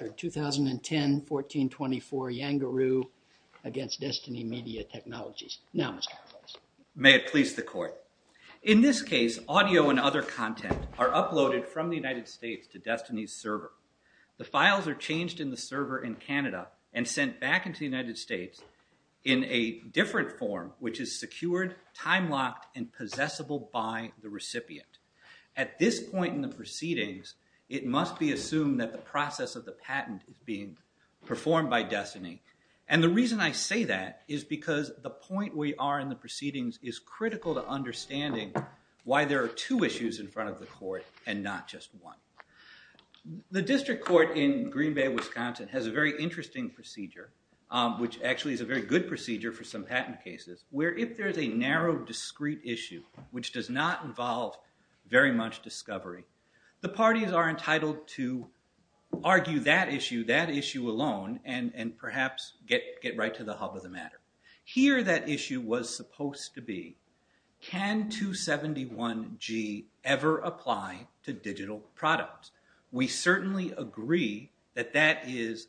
2010-14-24 YANGAROO v. DESTINY MEDIA TECH Now, Mr. McClose. May it please the Court. In this case, audio and other content are uploaded from the United States to Destiny's server. The files are changed in the server in Canada and sent back into the United States in a different form, which is secured, time-locked, and possessible by the recipient. At this point in the proceedings, it must be assumed that the process of the patent is being performed by Destiny. And the reason I say that is because the point we are in the proceedings is critical to understanding why there are two issues in front of the Court and not just one. The District Court in Green Bay, Wisconsin has a very interesting procedure, which actually is a very good procedure for some patent cases, where if there is a narrow, discrete issue which does not involve very much discovery, the parties are entitled to argue that issue, that issue alone, and perhaps get right to the hub of the matter. Here that issue was supposed to be, can 271G ever apply to digital products? We certainly agree that that is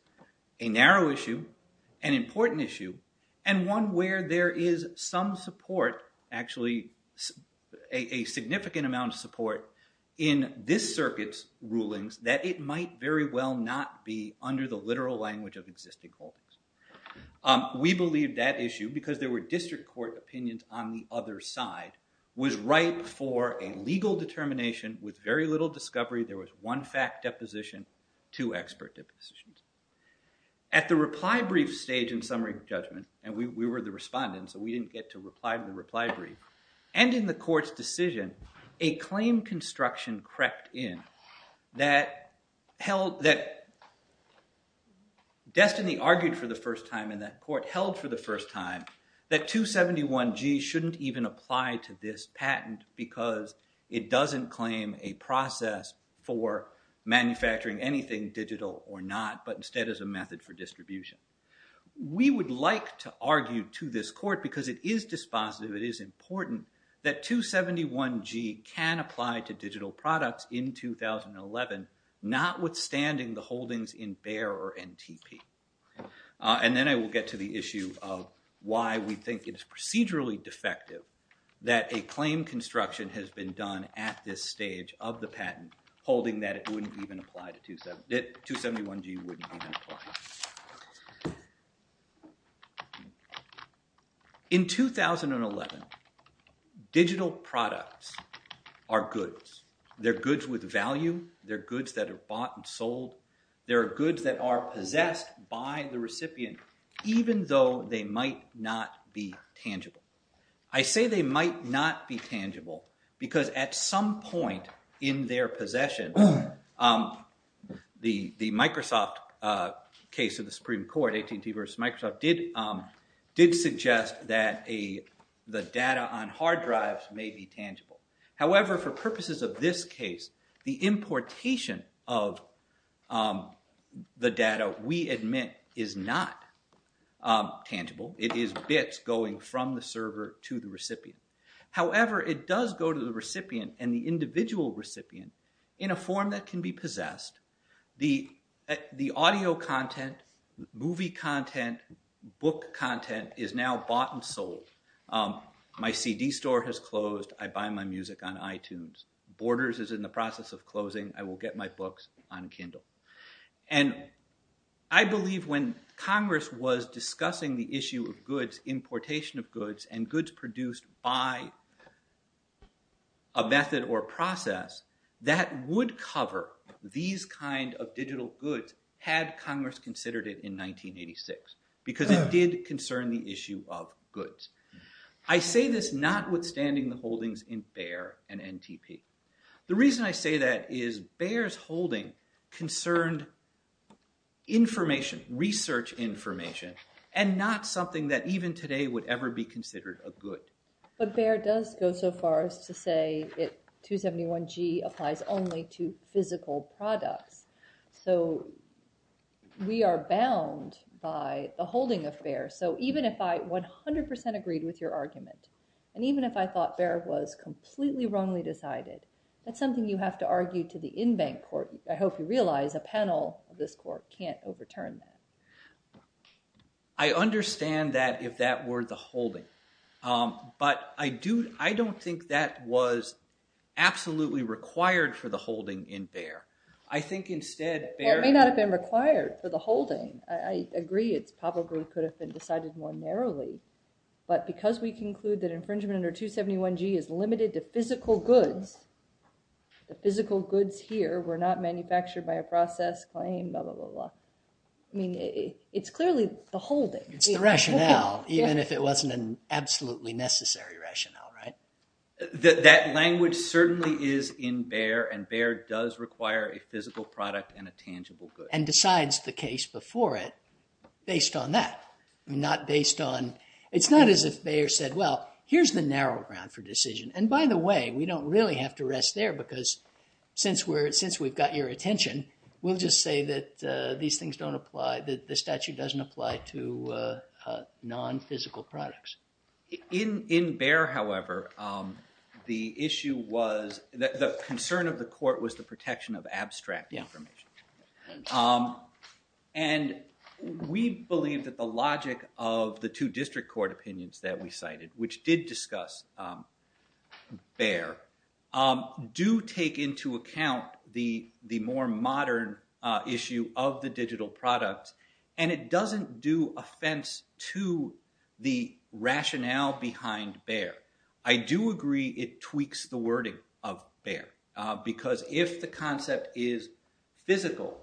a narrow issue, an important issue, and one where there is some support, actually a significant amount of support, in this circuit's rulings that it might very well not be under the literal language of existing holdings. We believe that issue, because there were District Court opinions on the other side, was right for a legal determination with very little discovery. There was one fact deposition, two expert depositions. At the reply brief stage in summary judgment, and we were the respondents, so we didn't get to reply to the reply brief, and in the Court's decision, a claim construction crept in that held, that Destiny argued for the first time in that Court, held for the first time that 271G shouldn't even apply to this patent because it doesn't claim a process for manufacturing anything digital or not, but instead as a method for distribution. We would like to argue to this Court, because it is dispositive, it is important, that 271G can apply to digital products in 2011, notwithstanding the holdings in Bayer or NTP. And then I will get to the issue of why we think it is procedurally defective that a holding that it wouldn't even apply to 271G. In 2011, digital products are goods. They're goods with value. They're goods that are bought and sold. They're goods that are possessed by the recipient, even though they might not be tangible. I say they might not be tangible, because at some point in their possession, the Microsoft case of the Supreme Court, AT&T versus Microsoft, did suggest that the data on hard drives may be tangible. However, for purposes of this case, the importation of the data, we admit, is not tangible. It is bits going from the server to the recipient. However, it does go to the recipient and the individual recipient in a form that can be possessed. The audio content, movie content, book content is now bought and sold. My CD store has closed. I buy my music on iTunes. Borders is in the process of closing. I will get my books on Kindle. And I believe when Congress was discussing the issue of goods, importation of goods, and goods produced by a method or process that would cover these kind of digital goods, had Congress considered it in 1986, because it did concern the issue of goods. I say this notwithstanding the holdings in Bayer and NTP. The reason I say that is Bayer's holding concerned information, research information, and not something that even today would ever be considered a good. But Bayer does go so far as to say that 271G applies only to physical products. So we are bound by the holding of Bayer. So even if I 100% agreed with your argument, and even if I thought Bayer was completely wrongly decided, that's something you have to argue to the in-bank court. I hope you realize a panel of this court can't overturn that. I understand that if that were the holding. But I don't think that was absolutely required for the holding in Bayer. I think instead, Bayer- Well, it may not have been required for the holding. I agree it probably could have been decided more narrowly. But because we conclude that infringement under 271G is limited to physical goods, the physical goods here were not manufactured by a process claim, blah, blah, blah, blah. It's clearly the holding. It's the rationale, even if it wasn't an absolutely necessary rationale, right? That language certainly is in Bayer, and Bayer does require a physical product and a tangible good. And decides the case before it based on that. I mean, not based on... It's not as if Bayer said, well, here's the narrow ground for decision. And by the way, we don't really have to rest there, because since we've got your attention, we'll just say that these things don't apply, that the statute doesn't apply to non-physical products. In Bayer, however, the issue was... The concern of the court was the protection of abstract information. And we believe that the logic of the two district court opinions that we cited, which did discuss Bayer, do take into account the more modern issue of the digital products. And it doesn't do offense to the rationale behind Bayer. I do agree it tweaks the wording of Bayer, because if the concept is physical,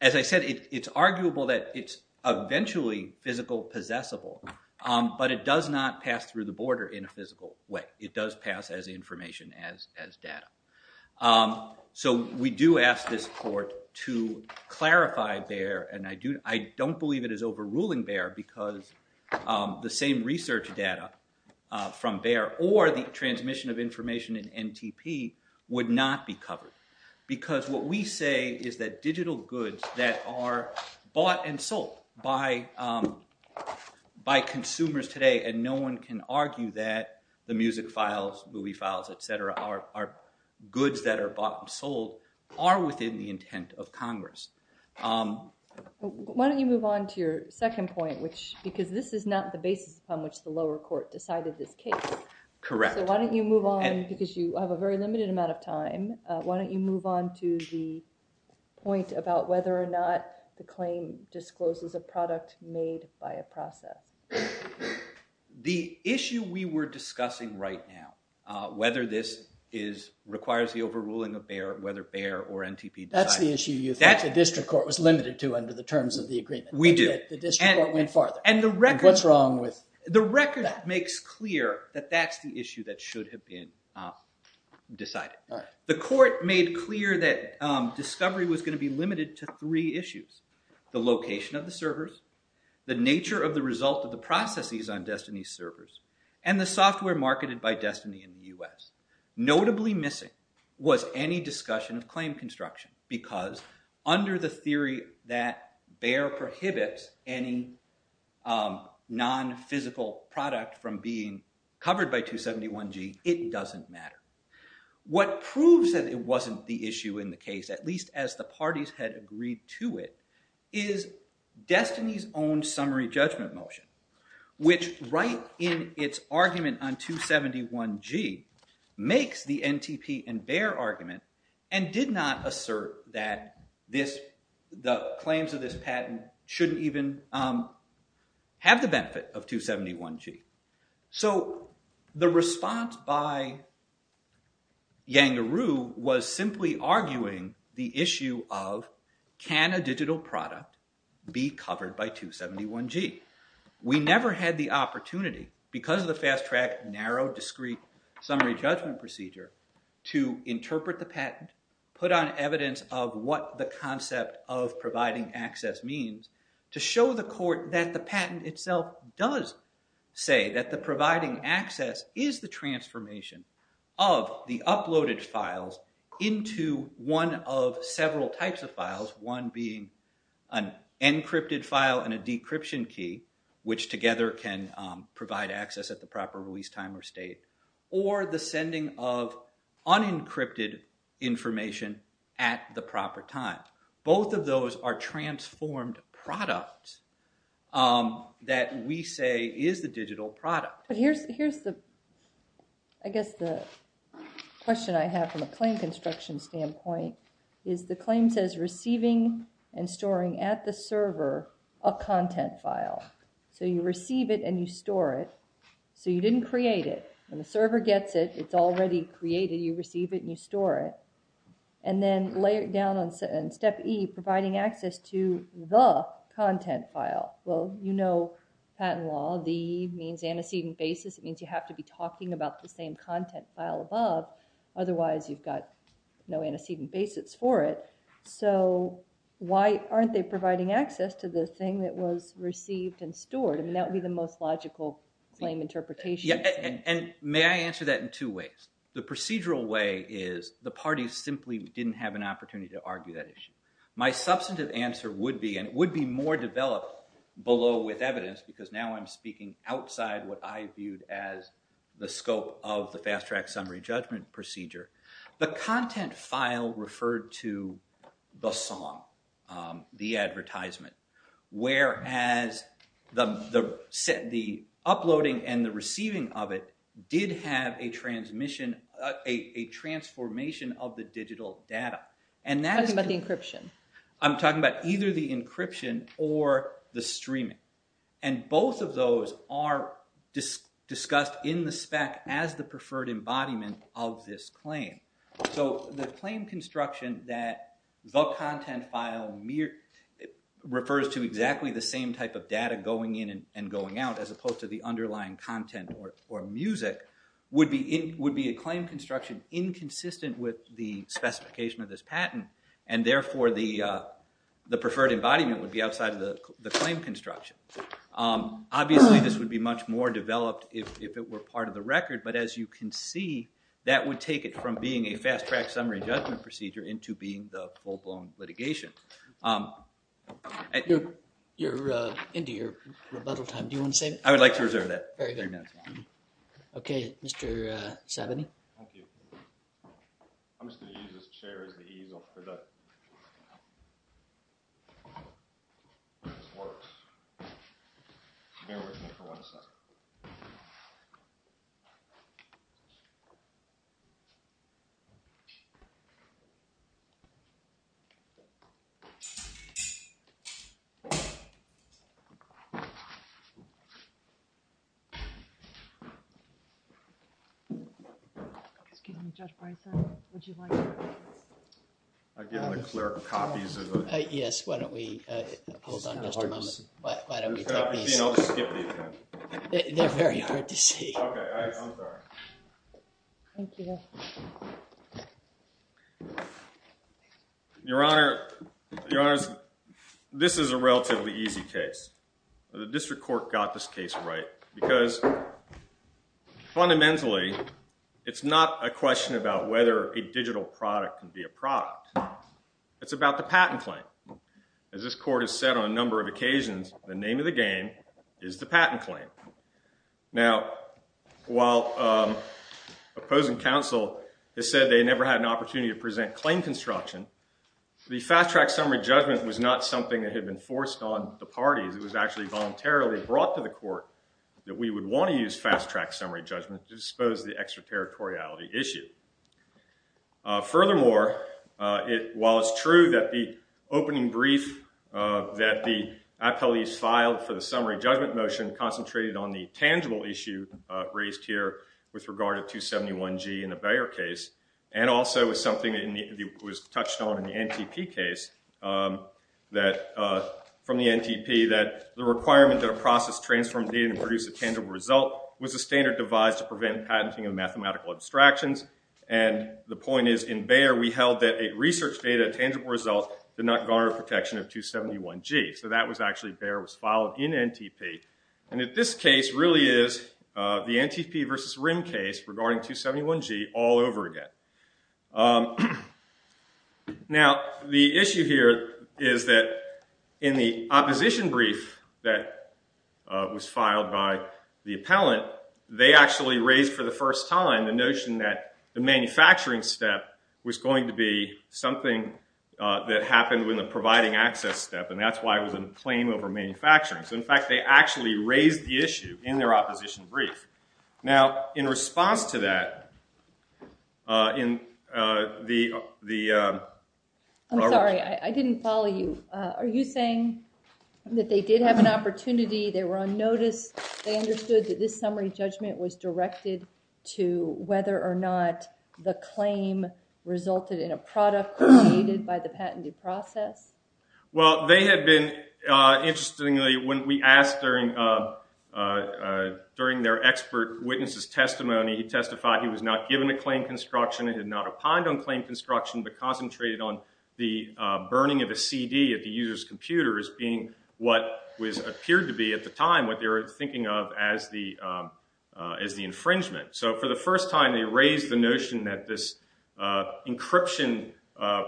as I said, it's arguable that it's eventually physical possessible, but it does not pass through the border in a physical way. It does pass as information, as data. So we do ask this court to clarify Bayer, and I don't believe it is overruling Bayer, because the same research data from Bayer, or the transmission of information in NTP, would not be covered. Because what we say is that digital goods that are bought and sold by consumers today, and no one can argue that the music files, movie files, et cetera, are goods that are bought and sold, are within the intent of Congress. Why don't you move on to your second point, which, because this is not the basis on which the lower court decided this case. Correct. So why don't you move on, because you have a very limited amount of time, why don't you move on to the point about whether or not the claim discloses a product made by a process. The issue we were discussing right now, whether this requires the overruling of Bayer, whether Bayer or NTP decided it. That's the issue you thought the district court was limited to under the terms of the agreement. We did. The district court went farther. And what's wrong with that? The record makes clear that that's the issue that should have been decided. The court made clear that discovery was going to be limited to three issues. The location of the servers, the nature of the result of the processes on Destiny's servers, and the software marketed by Destiny in the U.S. Notably missing was any discussion of claim construction, because under the theory that Bayer prohibits any non-physical product from being covered by 271G, it doesn't matter. What proves that it wasn't the issue in the case, at least as the parties had agreed to it, is Destiny's own summary judgment motion, which right in its argument on 271G makes the NTP and Bayer argument and did not assert that the claims of this patent shouldn't even have the benefit of 271G. So the response by Yangaroo was simply arguing the issue of, can a digital product be covered by 271G? We never had the opportunity, because of the fast-track, narrow, discreet summary judgment procedure, to interpret the patent, put on evidence of what the concept of providing access means, to show the court that the patent itself does say that the providing access is the transformation of the uploaded files into one of several types of files, one being an encrypted file and a decryption key, which together can provide access at the proper release time or state, or the sending of unencrypted information at the proper time. Both of those are transformed products that we say is the digital product. But here's the, I guess the question I have from a claim construction standpoint, is the claim says receiving and storing at the server a content file, so you receive it and you store it, so you didn't create it, when the server gets it, it's already created, you step E, providing access to the content file, well, you know patent law, the E means antecedent basis, it means you have to be talking about the same content file above, otherwise you've got no antecedent basis for it, so why aren't they providing access to the thing that was received and stored? I mean, that would be the most logical claim interpretation. And may I answer that in two ways? The procedural way is the parties simply didn't have an opportunity to argue that issue. My substantive answer would be, and it would be more developed below with evidence because now I'm speaking outside what I viewed as the scope of the Fast Track Summary Judgment Procedure, the content file referred to the song, the advertisement, whereas the uploading and the receiving of it did have a transmission, a transformation of the digital data. And that's... Talking about the encryption. I'm talking about either the encryption or the streaming. And both of those are discussed in the spec as the preferred embodiment of this claim. So the claim construction that the content file refers to exactly the same type of data going in and going out as opposed to the underlying content or music would be a claim construction inconsistent with the specification of this patent and therefore the preferred embodiment would be outside of the claim construction. Obviously, this would be much more developed if it were part of the record. But as you can see, that would take it from being a Fast Track Summary Judgment Procedure into being the full-blown litigation. You're into your rebuttal time. Do you want to say anything? I would like to reserve that. Very good. Okay. Mr. Sabany. Thank you. I'm just going to use this chair as the easel for the... This works. Bear with me for one second. Okay. Excuse me, Judge Breyser, would you like to... Yes, why don't we... Hold on just a moment. Why don't we take these... They're very hard to see. Okay. I'm sorry. Thank you. Your Honor. Your Honor, this is a relatively easy case. The district court got this case right because fundamentally, it's not a question about whether a digital product can be a product. It's about the patent claim. As this court has said on a number of occasions, the name of the game is the patent claim. Now while opposing counsel has said they never had an opportunity to present claim construction, the fast-track summary judgment was not something that had been forced on the parties. It was actually voluntarily brought to the court that we would want to use fast-track summary judgment to dispose of the extraterritoriality issue. Furthermore, while it's true that the opening brief that the appellees filed for the summary judgment motion concentrated on the tangible issue raised here with regard to 271G in the NTP case, from the NTP, that the requirement that a process transform data and produce a tangible result was a standard devised to prevent patenting of mathematical abstractions. The point is, in Bayer, we held that a research data tangible result did not garner protection of 271G. So that was actually... Bayer was followed in NTP. And this case really is the NTP versus RIM case regarding 271G all over again. Now the issue here is that in the opposition brief that was filed by the appellant, they actually raised for the first time the notion that the manufacturing step was going to be something that happened when the providing access step, and that's why it was a claim over manufacturing. So in fact, they actually raised the issue in their opposition brief. Now in response to that, in the... I'm sorry, I didn't follow you. Are you saying that they did have an opportunity, they were on notice, they understood that this summary judgment was directed to whether or not the claim resulted in a product created by the patented process? Well, they had been, interestingly, when we asked during their expert witness's testimony, he testified he was not given a claim construction, he had not opined on claim construction, but concentrated on the burning of a CD at the user's computer as being what was appeared to be at the time what they were thinking of as the infringement. So for the first time, they raised the notion that this encryption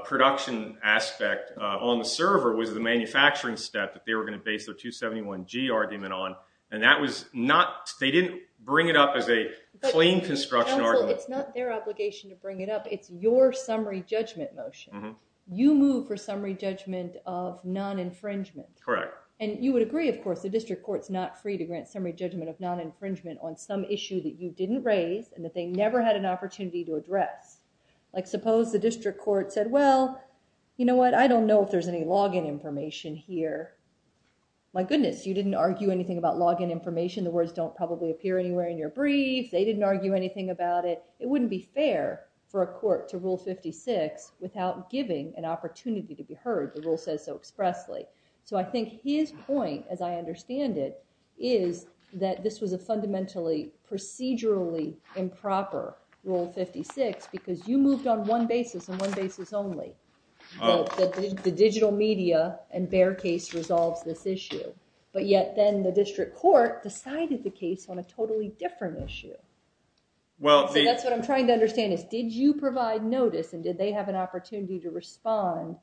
production aspect on the server was the manufacturing step that they were going to base their 271G argument on, and that was not, they didn't bring it up as a claim construction argument. Counsel, it's not their obligation to bring it up, it's your summary judgment motion. You move for summary judgment of non-infringement. Correct. And you would agree, of course, the district court's not free to grant summary judgment of non-infringement on some issue that you didn't raise, and that they never had an opportunity to address. Like, suppose the district court said, well, you know what, I don't know if there's any log-in information here. My goodness, you didn't argue anything about log-in information, the words don't probably appear anywhere in your brief, they didn't argue anything about it, it wouldn't be fair for a court to Rule 56 without giving an opportunity to be heard, the rule says so expressly. So I think his point, as I understand it, is that this was a fundamentally procedurally improper Rule 56 because you moved on one basis and one basis only, that the digital media and Bayer case resolves this issue, but yet then the district court decided the case on a totally different issue. So that's what I'm trying to understand is, did you provide notice and did they have an opportunity to be heard at all?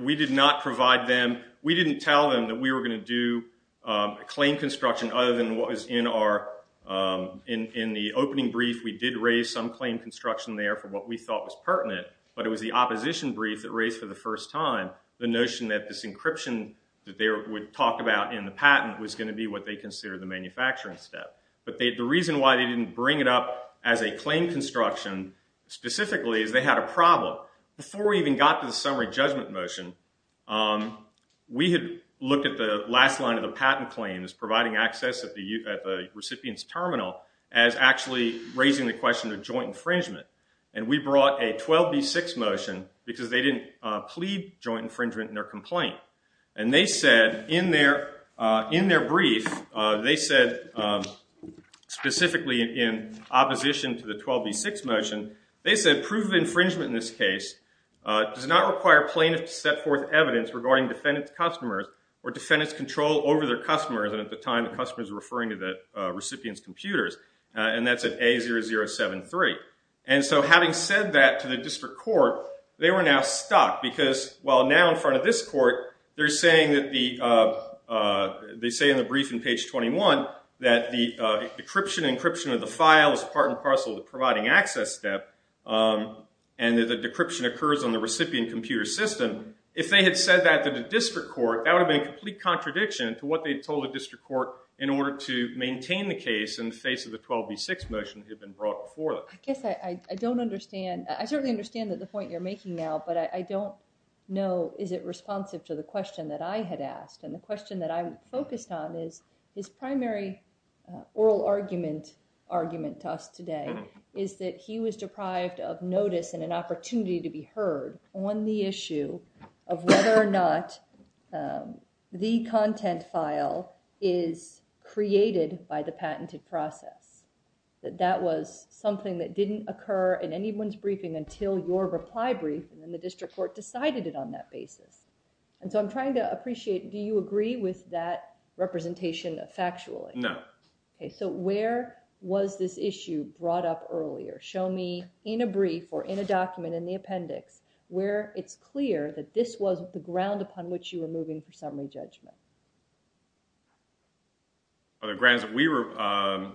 We did not provide them, we didn't tell them that we were going to do a claim construction other than what was in our, in the opening brief we did raise some claim construction there for what we thought was pertinent, but it was the opposition brief that raised for the first time the notion that this encryption that they would talk about in the patent was going to be what they considered the manufacturing step. But the reason why they didn't bring it up as a claim construction, specifically, is they had a problem. Before we even got to the summary judgment motion, we had looked at the last line of the patent claim as providing access at the recipient's terminal as actually raising the question of joint infringement. And we brought a 12B6 motion because they didn't plead joint infringement in their complaint. And they said in their brief, they said specifically in opposition to the 12B6 motion, they said proof of infringement in this case does not require plaintiffs to set forth evidence regarding defendant's customers or defendant's control over their customers, and at the time the customers were referring to the recipient's computers. And that's at A0073. And so having said that to the district court, they were now stuck because while now in front of this court, they're saying that the, they say in the brief in page 21 that the encryption of the file is part and parcel of the providing access step, and that the decryption occurs on the recipient computer system. If they had said that to the district court, that would have been a complete contradiction to what they told the district court in order to maintain the case in the face of the 12B6 motion that had been brought before them. I guess I don't understand, I certainly understand the point you're making now, but I don't know is it responsive to the question that I had asked. And the question that I'm focused on is his primary oral argument to us today is that he was deprived of notice and an opportunity to be heard on the issue of whether or not the content file is created by the patented process, that that was something that didn't occur in anyone's briefing until your reply brief, and then the district court decided it on that basis. And so I'm trying to appreciate, do you agree with that representation factually? No. Okay, so where was this issue brought up earlier? Show me in a brief or in a document in the appendix where it's clear that this was the ground upon which you were moving for summary judgment. On the grounds that we were, I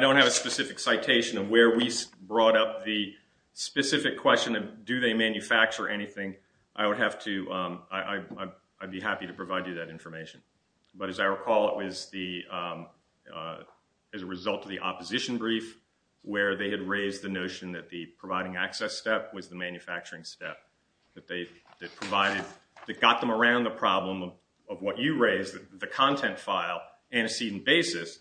don't have a specific citation of where we brought up the specific question of do they manufacture anything, I would have to, I'd be happy to provide you that information. But as I recall, it was the, as a result of the opposition brief, where they had raised the notion that the providing access step was the manufacturing step, that they, that provided, that got them around the problem of what you raised, the content file antecedent basis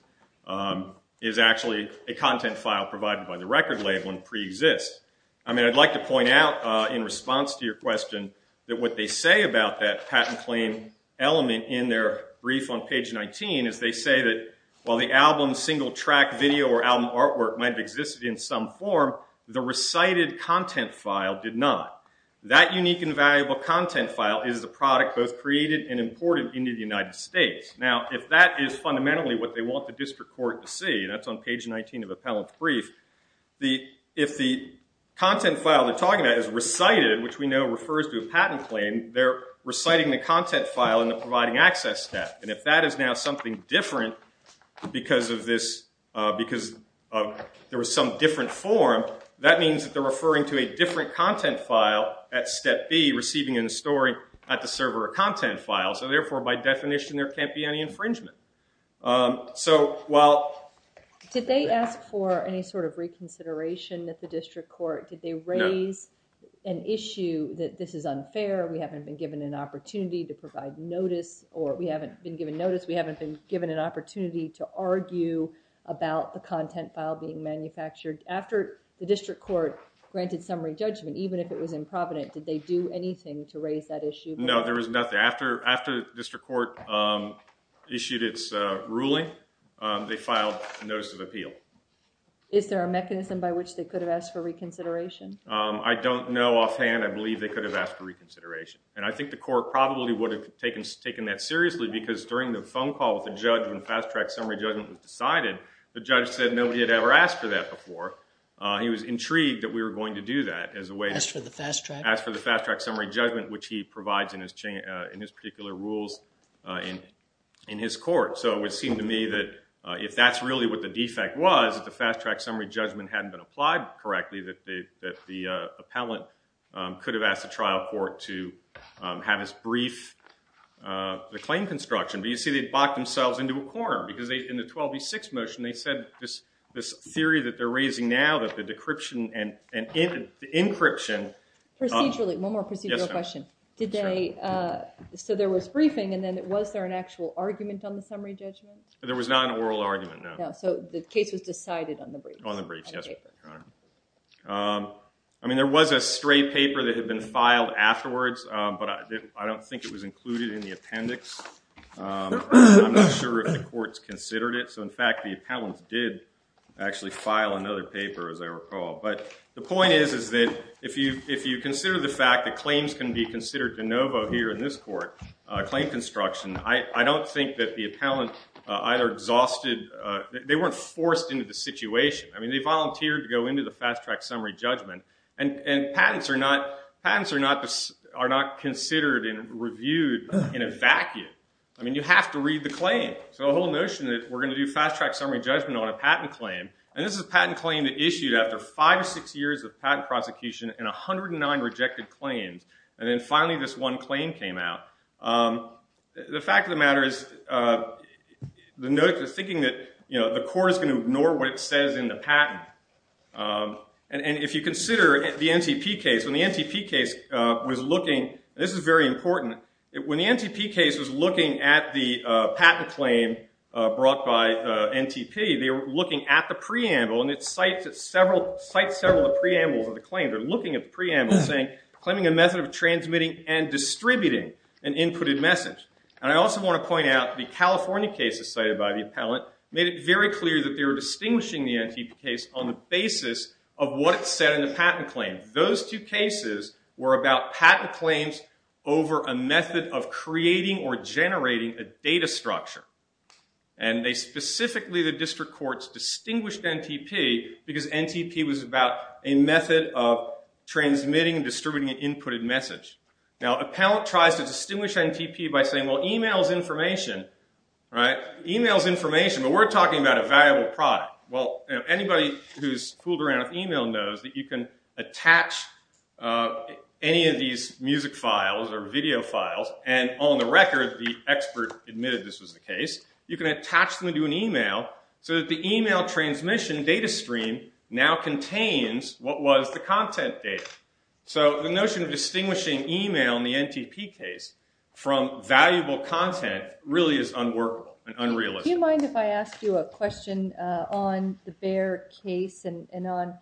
is actually a content file provided by the record label and pre-exists. I mean, I'd like to point out in response to your question that what they say about that patent claim element in their brief on page 19 is they say that while the album single track video or album artwork might have existed in some form, the recited content file did not. That unique and valuable content file is the product both created and imported into the United States. Now, if that is fundamentally what they want the district court to see, that's on page 19 of appellant brief, the, if the content file they're talking about is recited, which we know refers to a patent claim, they're reciting the content file in the providing access step. And if that is now something different because of this, because there was some different form, that means that they're referring to a different content file at step B, receiving and storing at the server a content file. So therefore, by definition, there can't be any infringement. So while... Did they ask for any sort of reconsideration that the district court, did they raise an issue that this is unfair, we haven't been given an opportunity to provide notice or we haven't been given notice, we haven't been given an opportunity to argue about the content file being manufactured after the district court granted summary judgment, even if it was in provident, did they do anything to raise that issue? No, there was nothing. After the district court issued its ruling, they filed a notice of appeal. Is there a mechanism by which they could have asked for reconsideration? I don't know offhand. I believe they could have asked for reconsideration. And I think the court probably would have taken that seriously because during the phone call with the judge when fast track summary judgment was decided, the judge said nobody had ever asked for that before. He was intrigued that we were going to do that as a way to... Ask for the fast track? Fast track summary judgment, which he provides in his particular rules in his court. So it would seem to me that if that's really what the defect was, that the fast track summary judgment hadn't been applied correctly, that the appellant could have asked the trial court to have his brief, the claim construction, but you see they've locked themselves into a corner because in the 12B6 motion, they said this theory that they're raising now that the decryption and the encryption... Procedurally. Yes, ma'am. Did they... Sure. So there was briefing and then was there an actual argument on the summary judgment? There was not an oral argument, no. No. So the case was decided on the brief. On the brief, yes. On the paper. I mean, there was a straight paper that had been filed afterwards, but I don't think it was included in the appendix. I'm not sure if the courts considered it. So in fact, the appellants did actually file another paper, as I recall. But the point is, is that if you consider the fact that claims can be considered de novo here in this court, claim construction, I don't think that the appellant either exhausted... They weren't forced into the situation. I mean, they volunteered to go into the fast track summary judgment. And patents are not considered and reviewed in a vacuum. I mean, you have to read the claim. So the whole notion that we're going to do fast track summary judgment on a patent claim, and this is a patent claim that issued after five or six years of patent prosecution and 109 rejected claims. And then finally, this one claim came out. The fact of the matter is, the notice is thinking that the court is going to ignore what it says in the patent. And if you consider the NTP case, when the NTP case was looking, and this is very important, when the NTP case was looking at the patent claim brought by NTP, they were looking at the preamble. And it cites several of the preambles of the claim. They're looking at the preamble, saying, claiming a method of transmitting and distributing an inputted message. And I also want to point out, the California cases cited by the appellant made it very clear that they were distinguishing the NTP case on the basis of what it said in the patent claim. Those two cases were about patent claims over a method of creating or generating a data structure. And they specifically, the district courts, distinguished NTP because NTP was about a method of transmitting and distributing an inputted message. Now, appellant tries to distinguish NTP by saying, well, email's information, right? Email's information, but we're talking about a valuable product. Well, anybody who's fooled around with email knows that you can attach any of these music files or video files, and on the record, the expert admitted this was the case. You can attach them to an email so that the email transmission data stream now contains what was the content data. So the notion of distinguishing email in the NTP case from valuable content really is unworkable and unrealistic. Do you mind if I ask you a question on the Baer case and on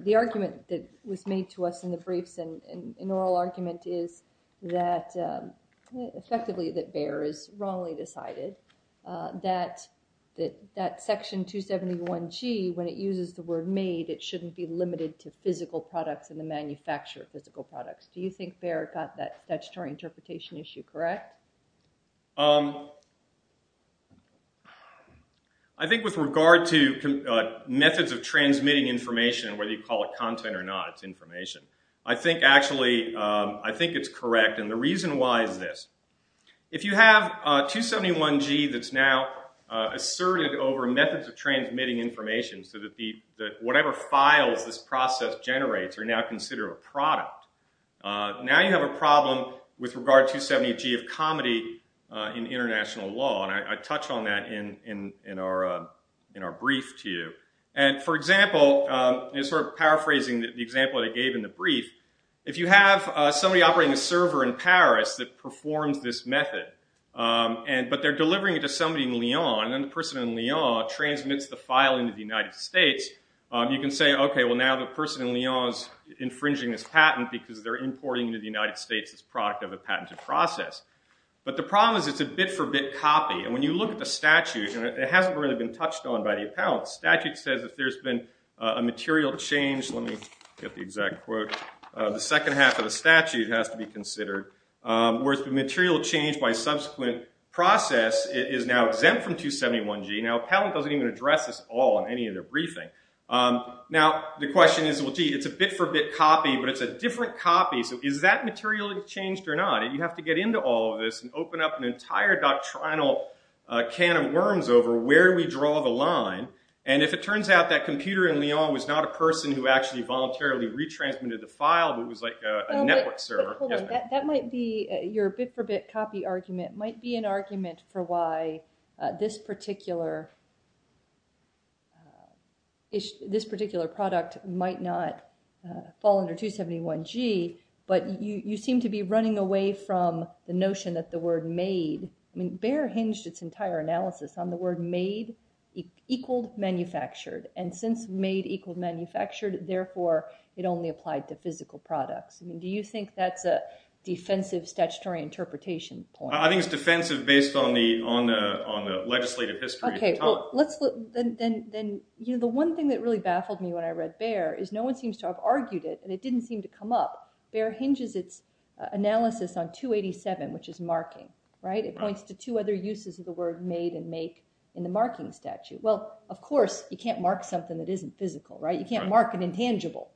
the argument that was made to us in the briefs and an oral argument is that effectively that Baer is wrongly decided. That section 271G, when it uses the word made, it shouldn't be limited to physical products and the manufacturer of physical products. Do you think Baer got that statutory interpretation issue correct? I think with regard to methods of transmitting information, whether you call it content or not, it's information. I think actually, I think it's correct, and the reason why is this. If you have 271G that's now asserted over methods of transmitting information so that whatever files this process generates are now considered a product, now you have a problem with regard to 271G of comedy in international law, and I touch on that in our brief to you. And for example, sort of paraphrasing the example I gave in the brief, if you have somebody operating a server in Paris that performs this method, but they're delivering it to somebody in Lyon, and then the person in Lyon transmits the file into the United States, you can say, okay, well now the person in Lyon is infringing this patent because they're in the United States as a product of a patented process. But the problem is it's a bit-for-bit copy, and when you look at the statute, and it hasn't really been touched on by the appellant, the statute says that there's been a material change, let me get the exact quote, the second half of the statute has to be considered, where the material change by subsequent process is now exempt from 271G. Now the appellant doesn't even address this at all in any of their briefing. Now the question is, well gee, it's a bit-for-bit copy, but it's a different copy, so is that material changed or not? And you have to get into all of this and open up an entire doctrinal can of worms over where we draw the line, and if it turns out that computer in Lyon was not a person who actually voluntarily retransmitted the file, but it was like a network server. That might be, your bit-for-bit copy argument might be an argument for why this particular issue, this particular product might not fall under 271G, but you seem to be running away from the notion that the word made, I mean, Bayer hinged its entire analysis on the word made, equaled manufactured, and since made equaled manufactured, therefore it only applied to physical products. I mean, do you think that's a defensive statutory interpretation point? I think it's defensive based on the legislative history at the time. Okay, well, then the one thing that really baffled me when I read Bayer is no one seems to have argued it, and it didn't seem to come up. Bayer hinges its analysis on 287, which is marking, right? It points to two other uses of the word made and make in the marking statute. Well, of course, you can't mark something that isn't physical, right? You can't mark an intangible,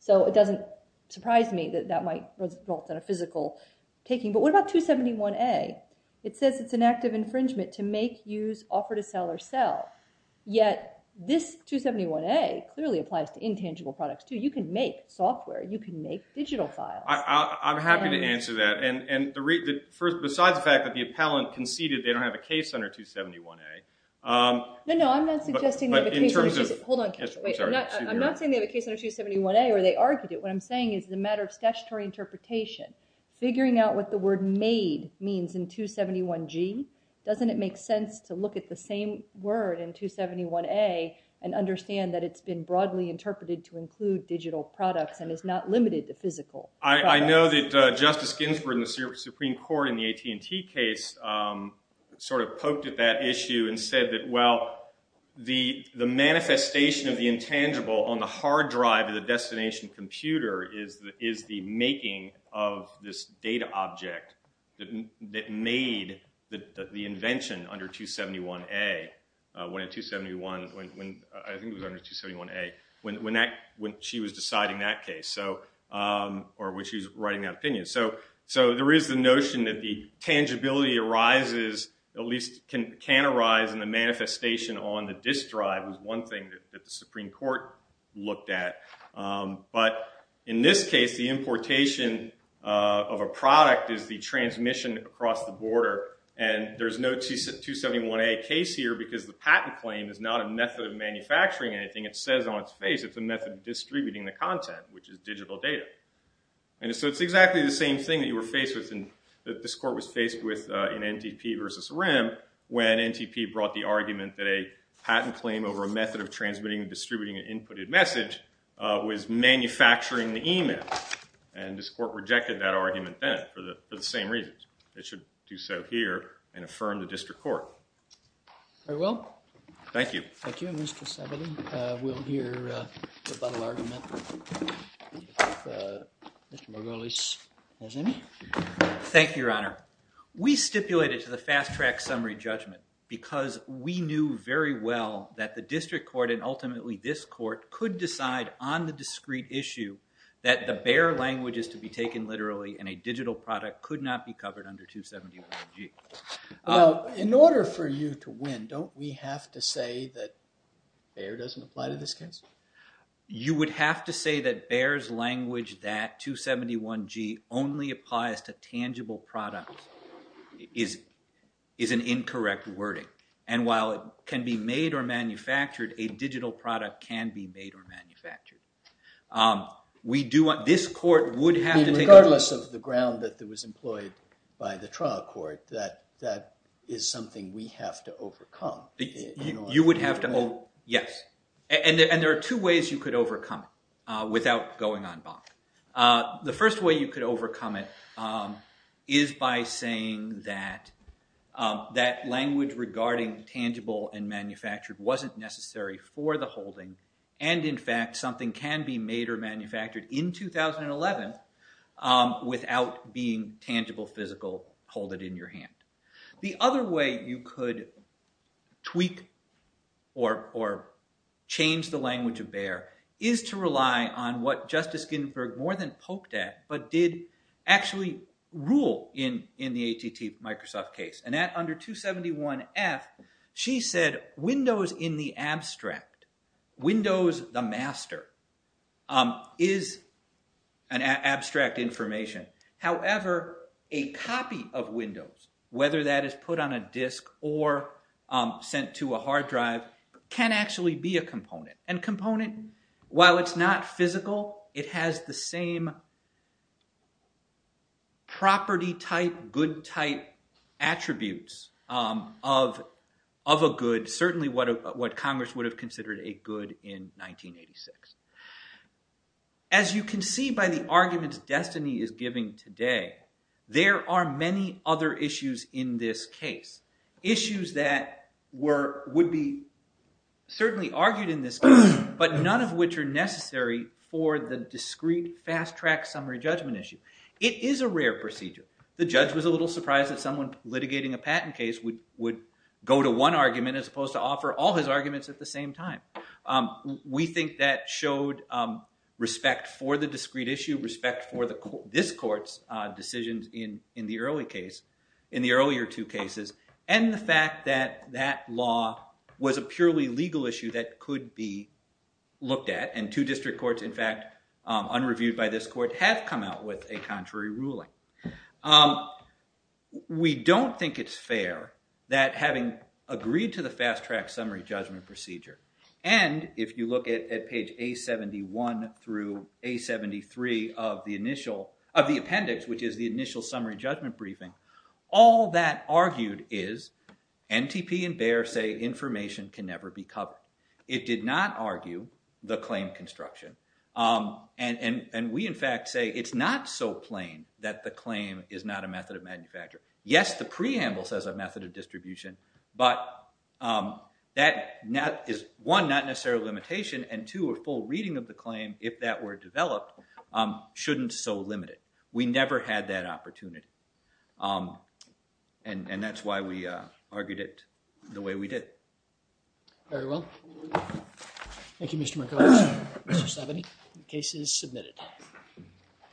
so it doesn't surprise me that that might result in a physical taking. But what about 271A? It says it's an act of infringement to make, use, offer to sell, or sell, yet this 271A clearly applies to intangible products, too. You can make software. You can make digital files. I'm happy to answer that, and besides the fact that the appellant conceded they don't have a case under 271A. No, no, I'm not suggesting they have a case under 271A. Hold on. I'm not saying they have a case under 271A, or they argued it. What I'm saying is it's a matter of statutory interpretation. Figuring out what the word made means in 271G, doesn't it make sense to look at the same word in 271A and understand that it's been broadly interpreted to include digital products and is not limited to physical products? I know that Justice Ginsburg in the Supreme Court in the AT&T case sort of poked at that issue and said that, well, the manifestation of the intangible on the hard drive of the data object that made the invention under 271A, I think it was under 271A, when she was deciding that case, or when she was writing that opinion. There is the notion that the tangibility arises, at least can arise, in the manifestation on the disk drive was one thing that the Supreme Court looked at, but in this case the importation of a product is the transmission across the border. There's no 271A case here because the patent claim is not a method of manufacturing anything. It says on its face it's a method of distributing the content, which is digital data. It's exactly the same thing that you were faced with, that this court was faced with in NTP versus RIM, when NTP brought the argument that a patent claim over a method of transmitting and distributing an inputted message was manufacturing the email. And this court rejected that argument then for the same reasons. It should do so here and affirm the district court. Very well. Thank you. Thank you. And Mr. Saboli, we'll hear the final argument of Mr. Margolis-Mazzini. Thank you, Your Honor. We stipulated to the fast-track summary judgment because we knew very well that the district court and ultimately this court could decide on the discrete issue that the Bayer language is to be taken literally and a digital product could not be covered under 271G. In order for you to win, don't we have to say that Bayer doesn't apply to this case? You would have to say that Bayer's language, that 271G, only applies to tangible products, is an incorrect wording. And while it can be made or manufactured, a digital product can be made or manufactured. We do want this court would have to take it. I mean, regardless of the ground that was employed by the trial court, that is something we have to overcome. You would have to. Oh, yes. And there are two ways you could overcome it without going on bond. The first way you could overcome it is by saying that language regarding tangible and manufactured wasn't necessary for the holding and, in fact, something can be made or manufactured in 2011 without being tangible, physical, hold it in your hand. The other way you could tweak or change the language of Bayer is to rely on what Justice Ginsburg more than poked at, but did actually rule in the ATT Microsoft case. And at under 271F, she said Windows in the abstract, Windows the master, is an abstract information. However, a copy of Windows, whether that is put on a disk or sent to a hard drive, can actually be a component. And component, while it's not physical, it has the same property type, good type attributes of a good, certainly what Congress would have considered a good in 1986. As you can see by the arguments Destiny is giving today, there are many other issues in this case. Issues that would be certainly argued in this case, but none of which are necessary for the discrete fast-track summary judgment issue. It is a rare procedure. The judge was a little surprised that someone litigating a patent case would go to one argument as opposed to offer all his arguments at the same time. We think that showed respect for the discrete issue, respect for this court's decisions in the earlier two cases, and the fact that that law was a purely legal issue that could be looked at, and two district courts, in fact, unreviewed by this court, have come out with a contrary ruling. We don't think it's fair that having agreed to the fast-track summary judgment procedure, and if you look at page A71 through A73 of the appendix, which is the initial summary judgment briefing, all that argued is NTP and Bayer say information can never be covered. It did not argue the claim construction, and we, in fact, say it's not so plain that the claim is not a method of manufacture. Yes, the preamble says a method of distribution, but that is, one, not necessarily a limitation, and two, a full reading of the claim, if that were developed, shouldn't so limit it. We never had that opportunity, and that's why we argued it the way we did. Very well. Thank you, Mr. Mikulas. Mr. Sabany, the case is submitted.